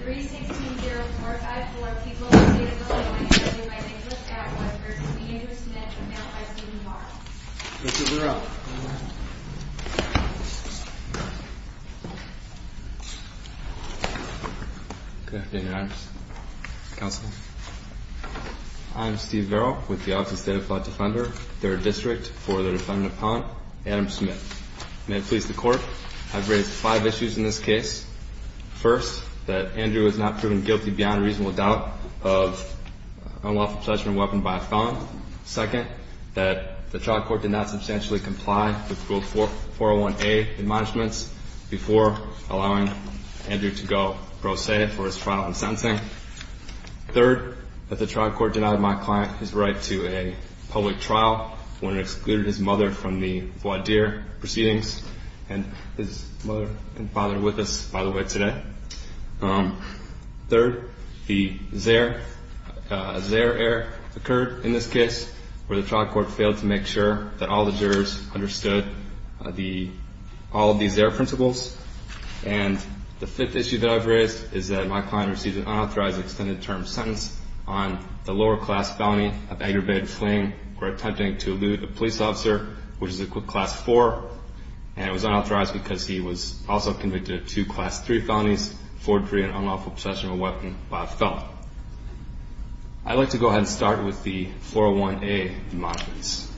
3-16-0454 People with State of the Law Injury might be hooked at 1% Andrew Smith, announced by Stephen Varel Mr. Varel Good afternoon Your Honors Counsel I am Steve Varel, with the Office of State of the Law Defender, 3rd District, for the Defendant Appellant, Adam Smith May it please the Court, I have raised 5 issues in this case First, that Andrew has not proven guilty beyond reasonable doubt of unlawful possession of a weapon by a felon Second, that the trial court did not substantially comply with Rule 401A admonishments before allowing Andrew to go pro se for his trial in sentencing Third, that the trial court denied my client his right to a public trial when it excluded his mother from the voir dire proceedings and his mother and father with us, by the way, today Third, the Zaire error occurred in this case, where the trial court failed to make sure that all the jurors understood all of the Zaire principles And the fifth issue that I have raised is that my client received an unauthorized extended term sentence on the lower class felony of aggravated fleeing or attempting to elude a police officer which is class 4 and it was unauthorized because he was also convicted of two class 3 felonies, forgery and unlawful possession of a weapon by a felon I'd like to go ahead and start with the 401A admonishments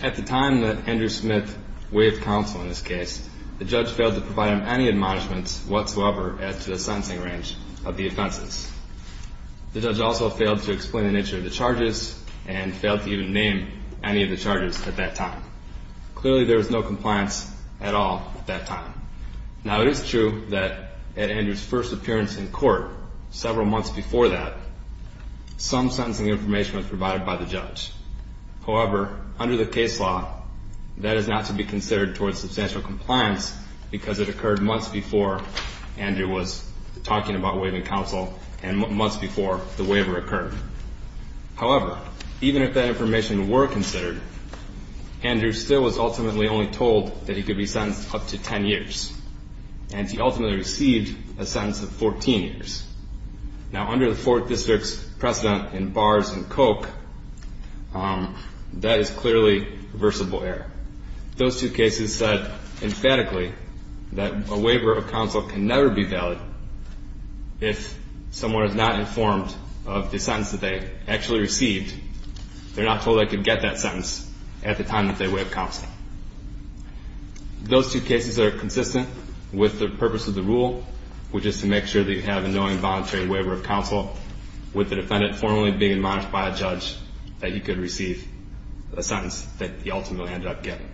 At the time that Andrew Smith waived counsel in this case, the judge failed to provide him any admonishments whatsoever as to the sentencing range of the offenses The judge also failed to explain the nature of the charges and failed to even name any of the charges at that time Clearly there was no compliance at all at that time Now it is true that at Andrew's first appearance in court, several months before that, some sentencing information was provided by the judge However, under the case law, that is not to be considered towards substantial compliance because it occurred months before Andrew was talking about waiving counsel and months before the waiver occurred However, even if that information were considered, Andrew still was ultimately only told that he could be sentenced up to 10 years and he ultimately received a sentence of 14 years Now under the 4th District's precedent in bars and coke, that is clearly reversible error Those two cases said emphatically that a waiver of counsel can never be valid if someone is not informed of the sentence that they actually received They're not told they could get that sentence at the time that they waived counsel Those two cases are consistent with the purpose of the rule, which is to make sure that you have a knowing voluntary waiver of counsel with the defendant formally being admonished by a judge that he could receive a sentence that he ultimately ended up getting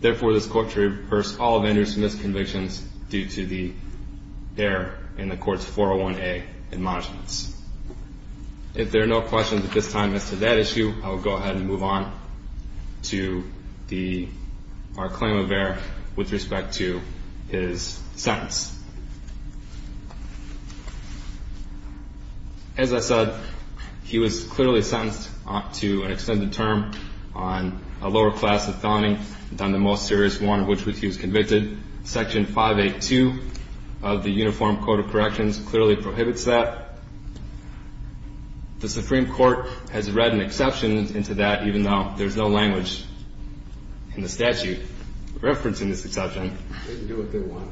Therefore, this court reverts all of Andrew's misconvictions due to the error in the court's 401A admonishments If there are no questions at this time as to that issue, I will go ahead and move on to our claim of error with respect to his sentence As I said, he was clearly sentenced to an extended term on a lower class of felony than the most serious one of which he was convicted Section 582 of the Uniform Code of Corrections clearly prohibits that The Supreme Court has read an exception into that even though there's no language in the statute referencing this exception They can do what they want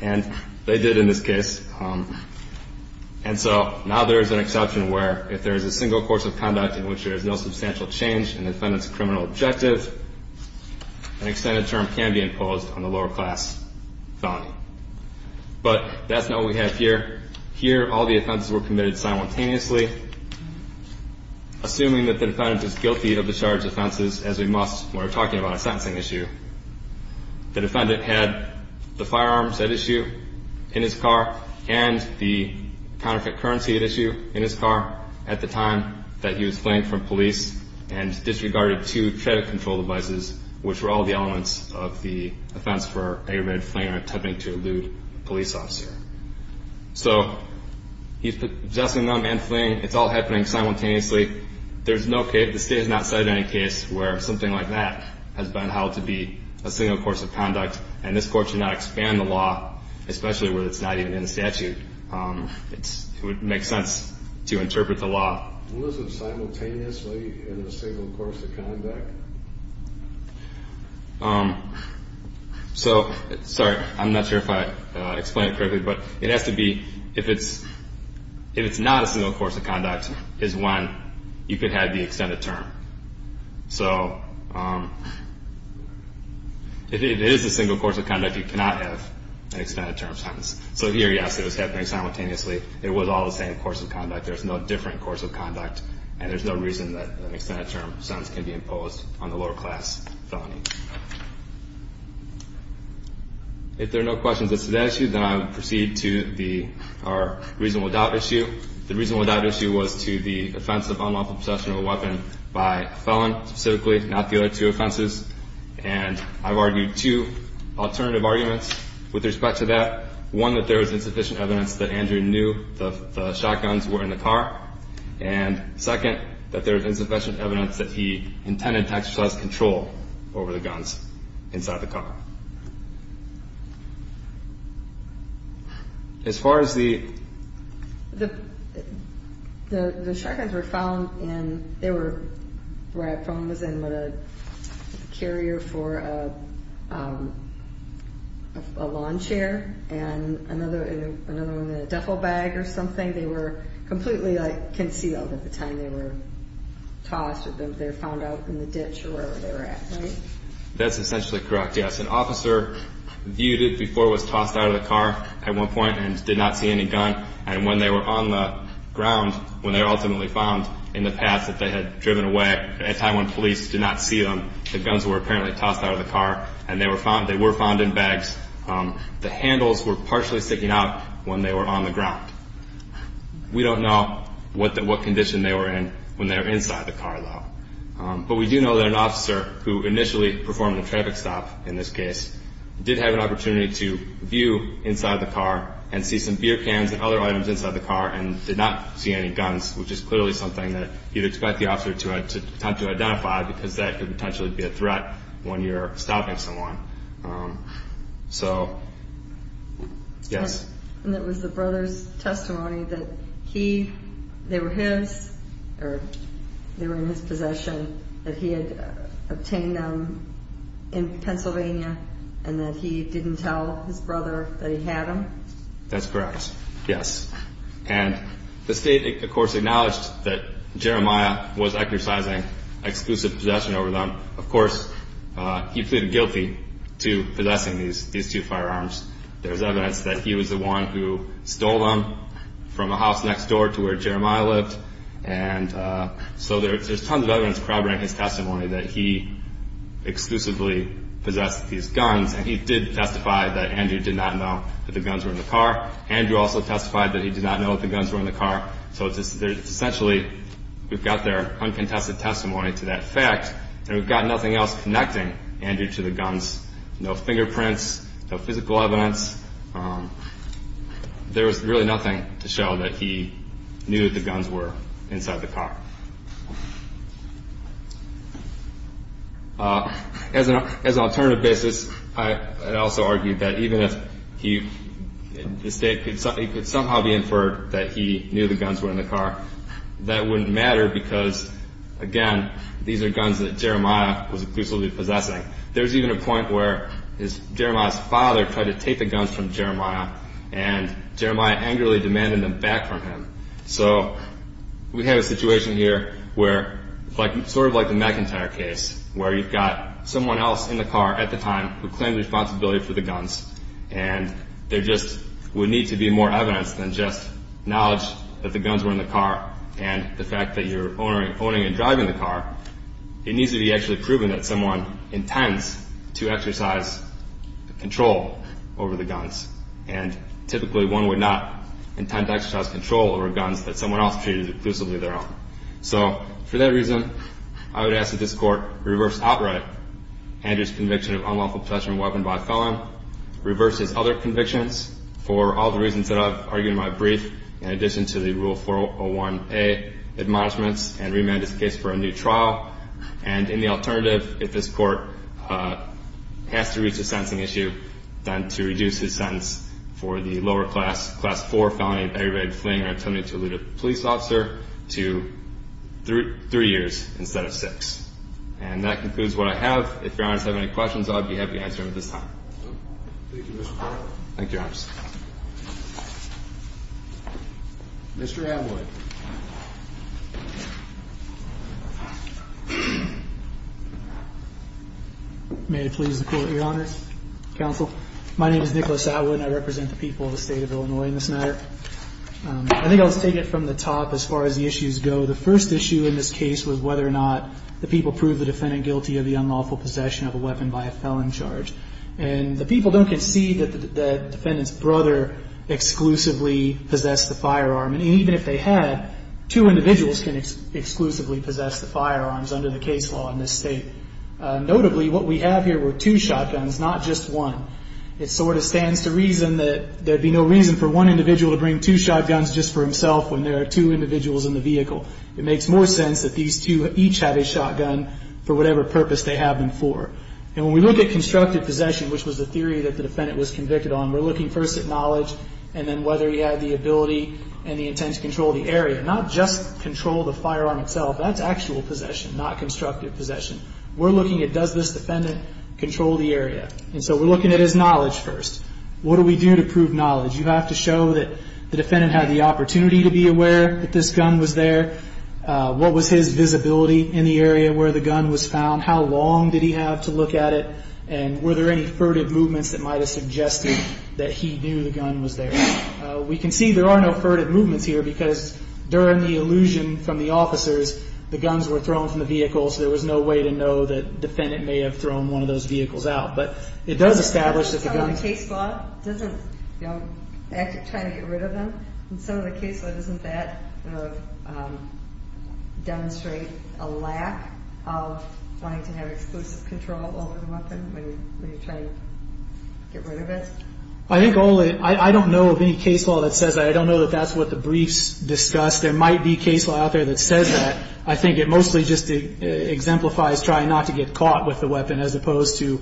And they did in this case And so now there is an exception where if there is a single course of conduct in which there is no substantial change in the defendant's criminal objective an extended term can be imposed on the lower class felony But that's not what we have here Here, all the offenses were committed simultaneously Assuming that the defendant is guilty of the charged offenses as we must when we're talking about a sentencing issue The defendant had the firearms at issue in his car and the counterfeit currency at issue in his car at the time that he was fleeing from police and disregarded two credit control devices which were all the elements of the offense for aggravated fleeing or attempting to elude a police officer So he's just a young man fleeing, it's all happening simultaneously There's no case, the state has not cited any case where something like that has been held to be a single course of conduct And this court should not expand the law, especially where it's not even in the statute It would make sense to interpret the law So, sorry, I'm not sure if I explained it correctly But it has to be, if it's not a single course of conduct is when you could have the extended term So if it is a single course of conduct, you cannot have an extended term sentence So here, yes, it was happening simultaneously It was all the same course of conduct But there's no different course of conduct And there's no reason that an extended term sentence can be imposed on the lower class felon If there are no questions as to that issue, then I will proceed to our reasonable doubt issue The reasonable doubt issue was to the offense of unlawful possession of a weapon by a felon specifically, not the other two offenses And I've argued two alternative arguments with respect to that One, that there was insufficient evidence that Andrew knew the shotguns were in the car And second, that there was insufficient evidence that he intended to exercise control over the guns inside the car As far as the... They were, where I'm from, was in a carrier for a lawn chair And another one in a duffel bag or something They were completely concealed at the time they were tossed They were found out in the ditch or wherever they were at, right? That's essentially correct, yes An officer viewed it before it was tossed out of the car at one point and did not see any gun And when they were on the ground, when they were ultimately found in the path that they had driven away At the time when police did not see them, the guns were apparently tossed out of the car And they were found in bags The handles were partially sticking out when they were on the ground We don't know what condition they were in when they were inside the car, though But we do know that an officer who initially performed a traffic stop, in this case Did have an opportunity to view inside the car and see some beer cans and other items inside the car And did not see any guns, which is clearly something that you'd expect the officer to attempt to identify Because that could potentially be a threat when you're stopping someone So, yes And it was the brother's testimony that he... They were his, or they were in his possession That he had obtained them in Pennsylvania and that he didn't tell his brother that he had them? That's correct, yes And the state, of course, acknowledged that Jeremiah was exercising exclusive possession over them Of course, he pleaded guilty to possessing these two firearms There's evidence that he was the one who stole them from a house next door to where Jeremiah lived And so there's tons of evidence corroborating his testimony that he exclusively possessed these guns And he did testify that Andrew did not know that the guns were in the car Andrew also testified that he did not know that the guns were in the car So essentially, we've got their uncontested testimony to that fact And we've got nothing else connecting Andrew to the guns No fingerprints, no physical evidence There was really nothing to show that he knew that the guns were inside the car As an alternative basis, I'd also argue that even if he... The state could somehow be inferred that he knew the guns were in the car That wouldn't matter because, again, these are guns that Jeremiah was exclusively possessing There's even a point where Jeremiah's father tried to take the guns from Jeremiah And Jeremiah angrily demanded them back from him So we have a situation here where, sort of like the McIntyre case Where you've got someone else in the car at the time who claimed responsibility for the guns And there just would need to be more evidence than just knowledge that the guns were in the car It needs to be actually proven that someone intends to exercise control over the guns And typically one would not intend to exercise control over guns that someone else treated exclusively their own So for that reason, I would ask that this Court reverse outright Andrew's conviction of unlawful possession of a weapon by a felon Reverse his other convictions for all the reasons that I've argued in my brief In addition to the Rule 401A admonishments and remand his case for a new trial And in the alternative, if this Court has to reach a sentencing issue Then to reduce his sentence for the lower class, Class 4 felony of aggravated fleeing or attempting to elude a police officer To 3 years instead of 6 And that concludes what I have If Your Honors have any questions, I'll be happy to answer them at this time Thank you, Mr. Court Thank you, Your Honors Mr. Atwood May it please the Court, Your Honors, Counsel My name is Nicholas Atwood and I represent the people of the State of Illinois in this matter I think I'll just take it from the top as far as the issues go The first issue in this case was whether or not the people proved the defendant guilty of the unlawful possession of a weapon by a felon charge And the people don't concede that the defendant's brother exclusively possessed the firearm And even if they had, 2 individuals can exclusively possess the firearms under the case law in this State Notably, what we have here were 2 shotguns, not just 1 It sort of stands to reason that there'd be no reason for 1 individual to bring 2 shotguns just for himself When there are 2 individuals in the vehicle It makes more sense that these 2 each have a shotgun for whatever purpose they have them for And when we look at constructive possession, which was the theory that the defendant was convicted on We're looking first at knowledge and then whether he had the ability and the intent to control the area Not just control the firearm itself That's actual possession, not constructive possession We're looking at does this defendant control the area And so we're looking at his knowledge first What do we do to prove knowledge? You have to show that the defendant had the opportunity to be aware that this gun was there What was his visibility in the area where the gun was found? How long did he have to look at it? And were there any furtive movements that might have suggested that he knew the gun was there? We can see there are no furtive movements here Because during the illusion from the officers, the guns were thrown from the vehicles There was no way to know that the defendant may have thrown one of those vehicles out But it does establish that the gun... This isn't trying to get rid of them In some of the case law, doesn't that demonstrate a lack of wanting to have exclusive control over the weapon When you're trying to get rid of it? I don't know of any case law that says that I don't know that that's what the briefs discuss There might be case law out there that says that I think it mostly just exemplifies trying not to get caught with the weapon As opposed to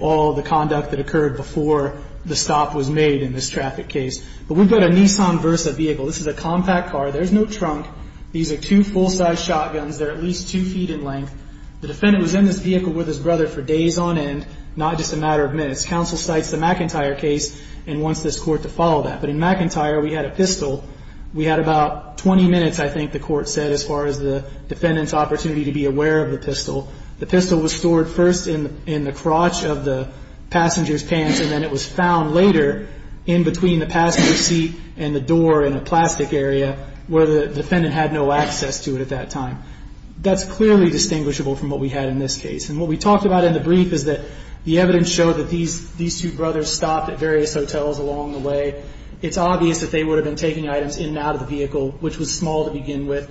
all the conduct that occurred before the stop was made in this traffic case But we've got a Nissan Versa vehicle This is a compact car There's no trunk These are two full-sized shotguns They're at least two feet in length The defendant was in this vehicle with his brother for days on end Not just a matter of minutes Counsel cites the McIntyre case and wants this court to follow that But in McIntyre, we had a pistol We had about 20 minutes, I think the court said As far as the defendant's opportunity to be aware of the pistol The pistol was stored first in the crotch of the passenger's pants And then it was found later in between the passenger seat and the door in the plastic area Where the defendant had no access to it at that time That's clearly distinguishable from what we had in this case And what we talked about in the brief is that The evidence showed that these two brothers stopped at various hotels along the way It's obvious that they would have been taking items in and out of the vehicle Which was small to begin with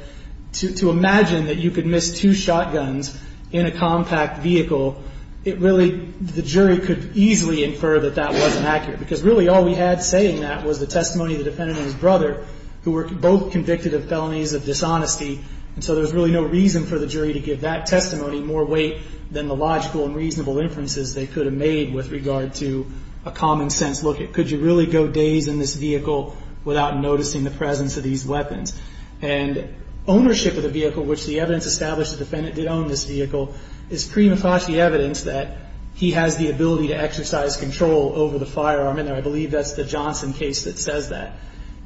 To imagine that you could miss two shotguns in a compact vehicle The jury could easily infer that that wasn't accurate Because really all we had saying that was the testimony of the defendant and his brother Who were both convicted of felonies of dishonesty And so there was really no reason for the jury to give that testimony more weight Than the logical and reasonable inferences they could have made with regard to a common sense Look, could you really go days in this vehicle without noticing the presence of these weapons? And ownership of the vehicle, which the evidence established the defendant did own this vehicle Is prima facie evidence that he has the ability to exercise control over the firearm And I believe that's the Johnson case that says that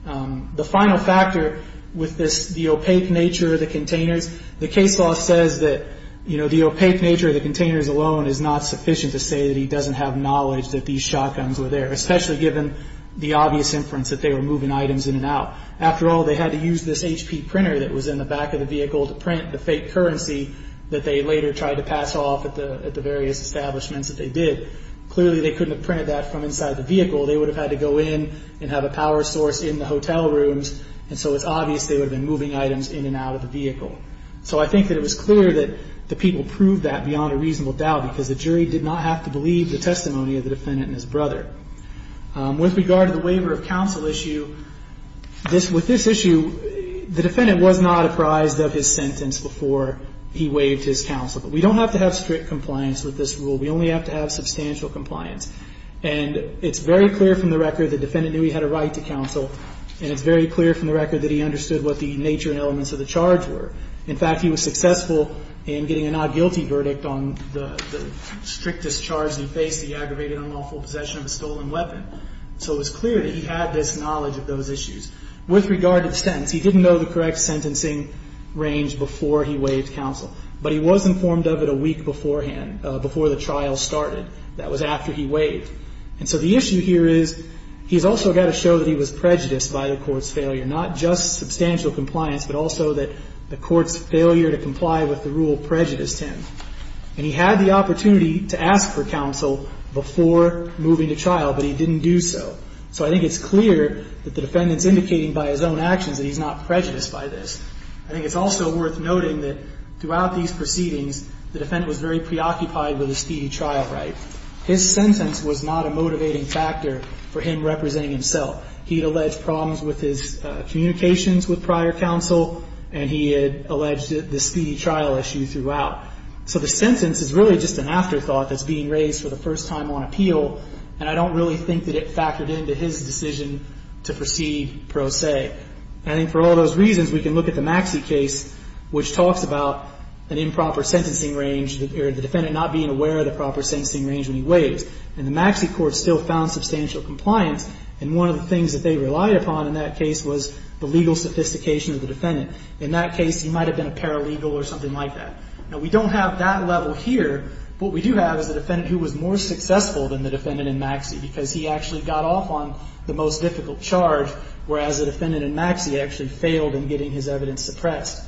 The final factor with this, the opaque nature of the containers The case law says that the opaque nature of the containers alone Is not sufficient to say that he doesn't have knowledge that these shotguns were there Especially given the obvious inference that they were moving items in and out After all, they had to use this HP printer that was in the back of the vehicle To print the fake currency that they later tried to pass off at the various establishments that they did Clearly they couldn't have printed that from inside the vehicle They would have had to go in and have a power source in the hotel rooms And so it's obvious they would have been moving items in and out of the vehicle So I think that it was clear that the people proved that beyond a reasonable doubt Because the jury did not have to believe the testimony of the defendant and his brother With regard to the waiver of counsel issue With this issue, the defendant was not apprised of his sentence before he waived his counsel But we don't have to have strict compliance with this rule We only have to have substantial compliance And it's very clear from the record that the defendant knew he had a right to counsel And it's very clear from the record that he understood what the nature and elements of the charge were In fact, he was successful in getting a not guilty verdict on the strictest charge Because he faced the aggravated unlawful possession of a stolen weapon So it was clear that he had this knowledge of those issues With regard to the sentence, he didn't know the correct sentencing range before he waived counsel But he was informed of it a week beforehand, before the trial started That was after he waived And so the issue here is, he's also got to show that he was prejudiced by the court's failure Not just substantial compliance, but also that the court's failure to comply with the rule prejudiced him And he had the opportunity to ask for counsel before moving to trial, but he didn't do so So I think it's clear that the defendant's indicating by his own actions that he's not prejudiced by this I think it's also worth noting that throughout these proceedings The defendant was very preoccupied with the speedy trial right His sentence was not a motivating factor for him representing himself He had alleged problems with his communications with prior counsel And he had alleged the speedy trial issue throughout So the sentence is really just an afterthought that's being raised for the first time on appeal And I don't really think that it factored into his decision to proceed pro se And I think for all those reasons, we can look at the Maxie case Which talks about an improper sentencing range The defendant not being aware of the proper sentencing range when he waives And the Maxie court still found substantial compliance And one of the things that they relied upon in that case was the legal sophistication of the defendant In that case, he might have been a paralegal or something like that Now we don't have that level here What we do have is a defendant who was more successful than the defendant in Maxie Because he actually got off on the most difficult charge Whereas the defendant in Maxie actually failed in getting his evidence suppressed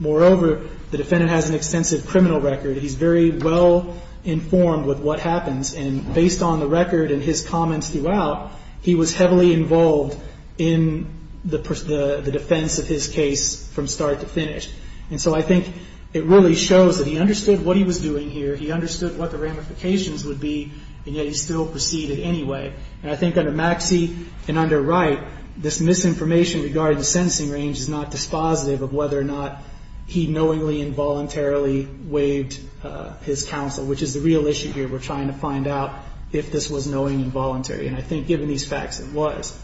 Moreover, the defendant has an extensive criminal record He's very well informed with what happens And based on the record and his comments throughout He was heavily involved in the defense of his case from start to finish And so I think it really shows that he understood what he was doing here He understood what the ramifications would be And yet he still proceeded anyway And I think under Maxie and under Wright This misinformation regarding the sentencing range is not dispositive Of whether or not he knowingly and voluntarily waived his counsel Which is the real issue here We're trying to find out if this was knowingly and voluntarily And I think given these facts, it was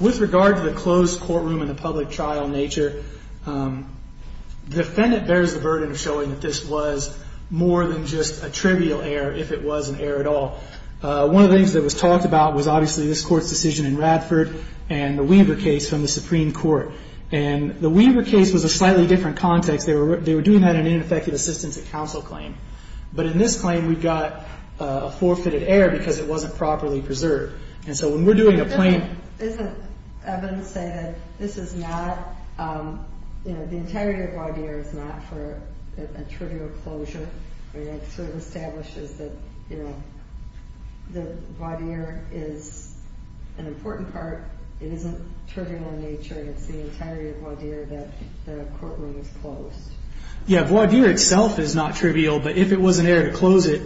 With regard to the closed courtroom and the public trial nature The defendant bears the burden of showing that this was more than just a trivial error If it was an error at all One of the things that was talked about was obviously this court's decision in Radford And the Weaver case from the Supreme Court And the Weaver case was a slightly different context They were doing that in an ineffective assistance of counsel claim But in this claim, we got a forfeited error because it wasn't properly preserved And so when we're doing a plain Doesn't evidence say that this is not You know, the integrity of voir dire is not for a trivial closure It sort of establishes that, you know, the voir dire is an important part It isn't trivial in nature And it's the entirety of voir dire that the courtroom is closed Yeah, voir dire itself is not trivial But if it was an error to close it,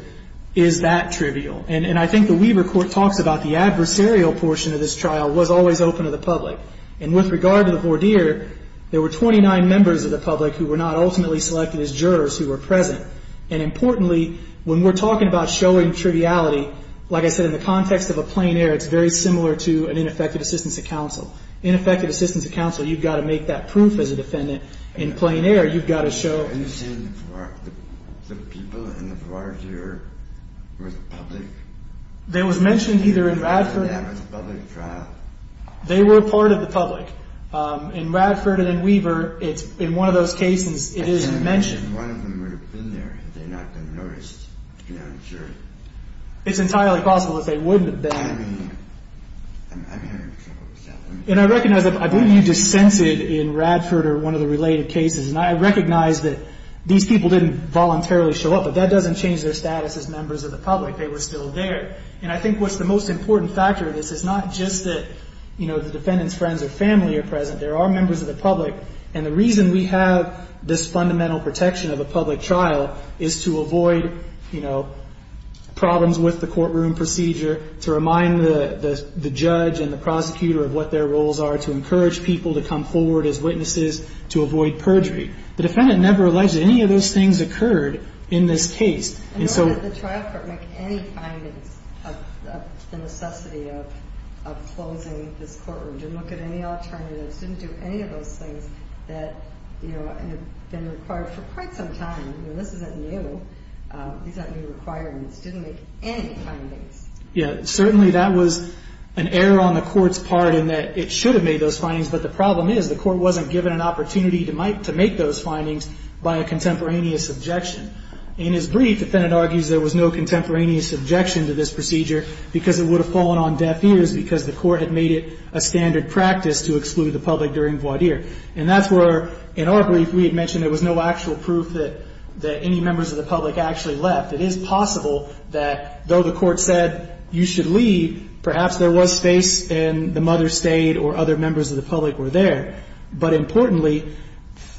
is that trivial? And I think the Weaver court talks about the adversarial portion of this trial Was always open to the public And with regard to the voir dire There were 29 members of the public Who were not ultimately selected as jurors who were present And importantly, when we're talking about showing triviality Like I said, in the context of a plain error It's very similar to an ineffective assistance of counsel Ineffective assistance of counsel, you've got to make that proof as a defendant In plain error, you've got to show Are you saying the people in the voir dire were the public? They were mentioned either in Radford That was a public trial They were a part of the public In Radford and in Weaver, in one of those cases, it is mentioned One of them would have been there had they not been noticed You know, I'm sure It's entirely possible that they wouldn't have been And I recognize, I believe you just censored in Radford Or one of the related cases And I recognize that these people didn't voluntarily show up But that doesn't change their status as members of the public They were still there And I think what's the most important factor of this Is not just that, you know, the defendant's friends or family are present There are members of the public And the reason we have this fundamental protection of a public trial Is to avoid, you know, problems with the courtroom procedure To remind the judge and the prosecutor of what their roles are To encourage people to come forward as witnesses To avoid perjury The defendant never alleged that any of those things occurred in this case And so And nor did the trial court make any findings of the necessity of closing this courtroom Didn't look at any alternatives Didn't do any of those things that, you know, have been required for quite some time You know, this isn't new These aren't new requirements Didn't make any findings Yeah, certainly that was an error on the court's part In that it should have made those findings But the problem is The court wasn't given an opportunity to make those findings By a contemporaneous objection In his brief, the defendant argues There was no contemporaneous objection to this procedure Because it would have fallen on deaf ears Because the court had made it a standard practice To exclude the public during voir dire And that's where, in our brief, we had mentioned There was no actual proof that any members of the public actually left It is possible that, though the court said You should leave Perhaps there was space and the mother stayed Or other members of the public were there But importantly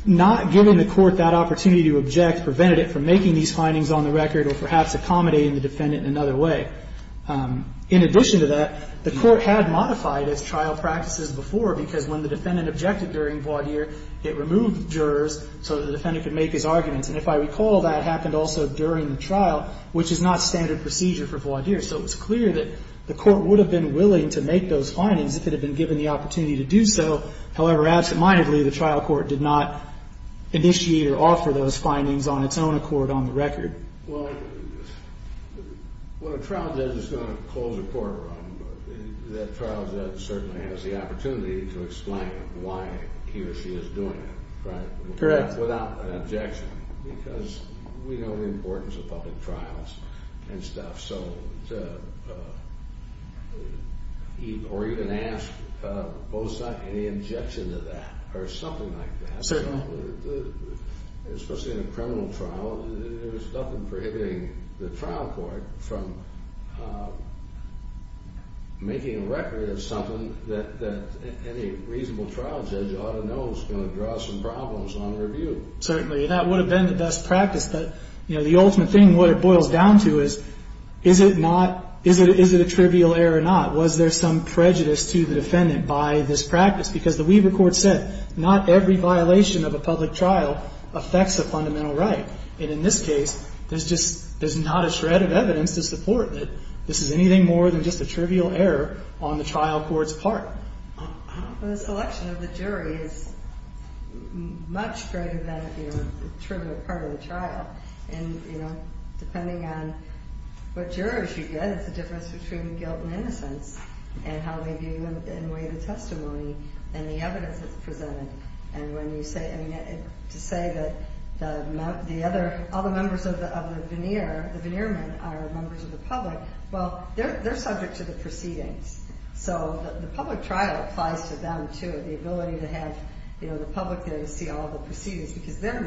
Not giving the court that opportunity to object Prevented it from making these findings on the record Or perhaps accommodating the defendant in another way In addition to that The court had modified its trial practices before Because when the defendant objected during voir dire It removed jurors So the defendant could make his arguments And if I recall That happened also during the trial Which is not standard procedure for voir dire So it was clear that the court would have been willing To make those findings If it had been given the opportunity to do so However, absentmindedly The trial court did not initiate or offer those findings On its own accord on the record Well, when a trial judge is going to close a courtroom That trial judge certainly has the opportunity To explain why he or she is doing it, right? Correct Without an objection Because we know the importance of public trials And stuff, so Or even ask both sides Any objection to that Or something like that Certainly Especially in a criminal trial There's nothing prohibiting the trial court From making a record of something That any reasonable trial judge ought to know Certainly That would have been the best practice But, you know, the ultimate thing What it boils down to is Is it not Is it a trivial error or not? Was there some prejudice to the defendant By this practice? Because the Weaver court said Not every violation of a public trial Affects a fundamental right And in this case There's just There's not a shred of evidence to support That this is anything more than just a trivial error On the trial court's part The selection of the jury is Much greater than The trivial part of the trial And, you know, depending on What jurors you get It's the difference between guilt and innocence And how they view and weigh the testimony And the evidence that's presented And when you say To say that The other All the members of the veneer The veneer men are members of the public Well, they're subject to the proceedings So the public trial Applies to them too The ability to have You know, the public there to see all the proceedings Because then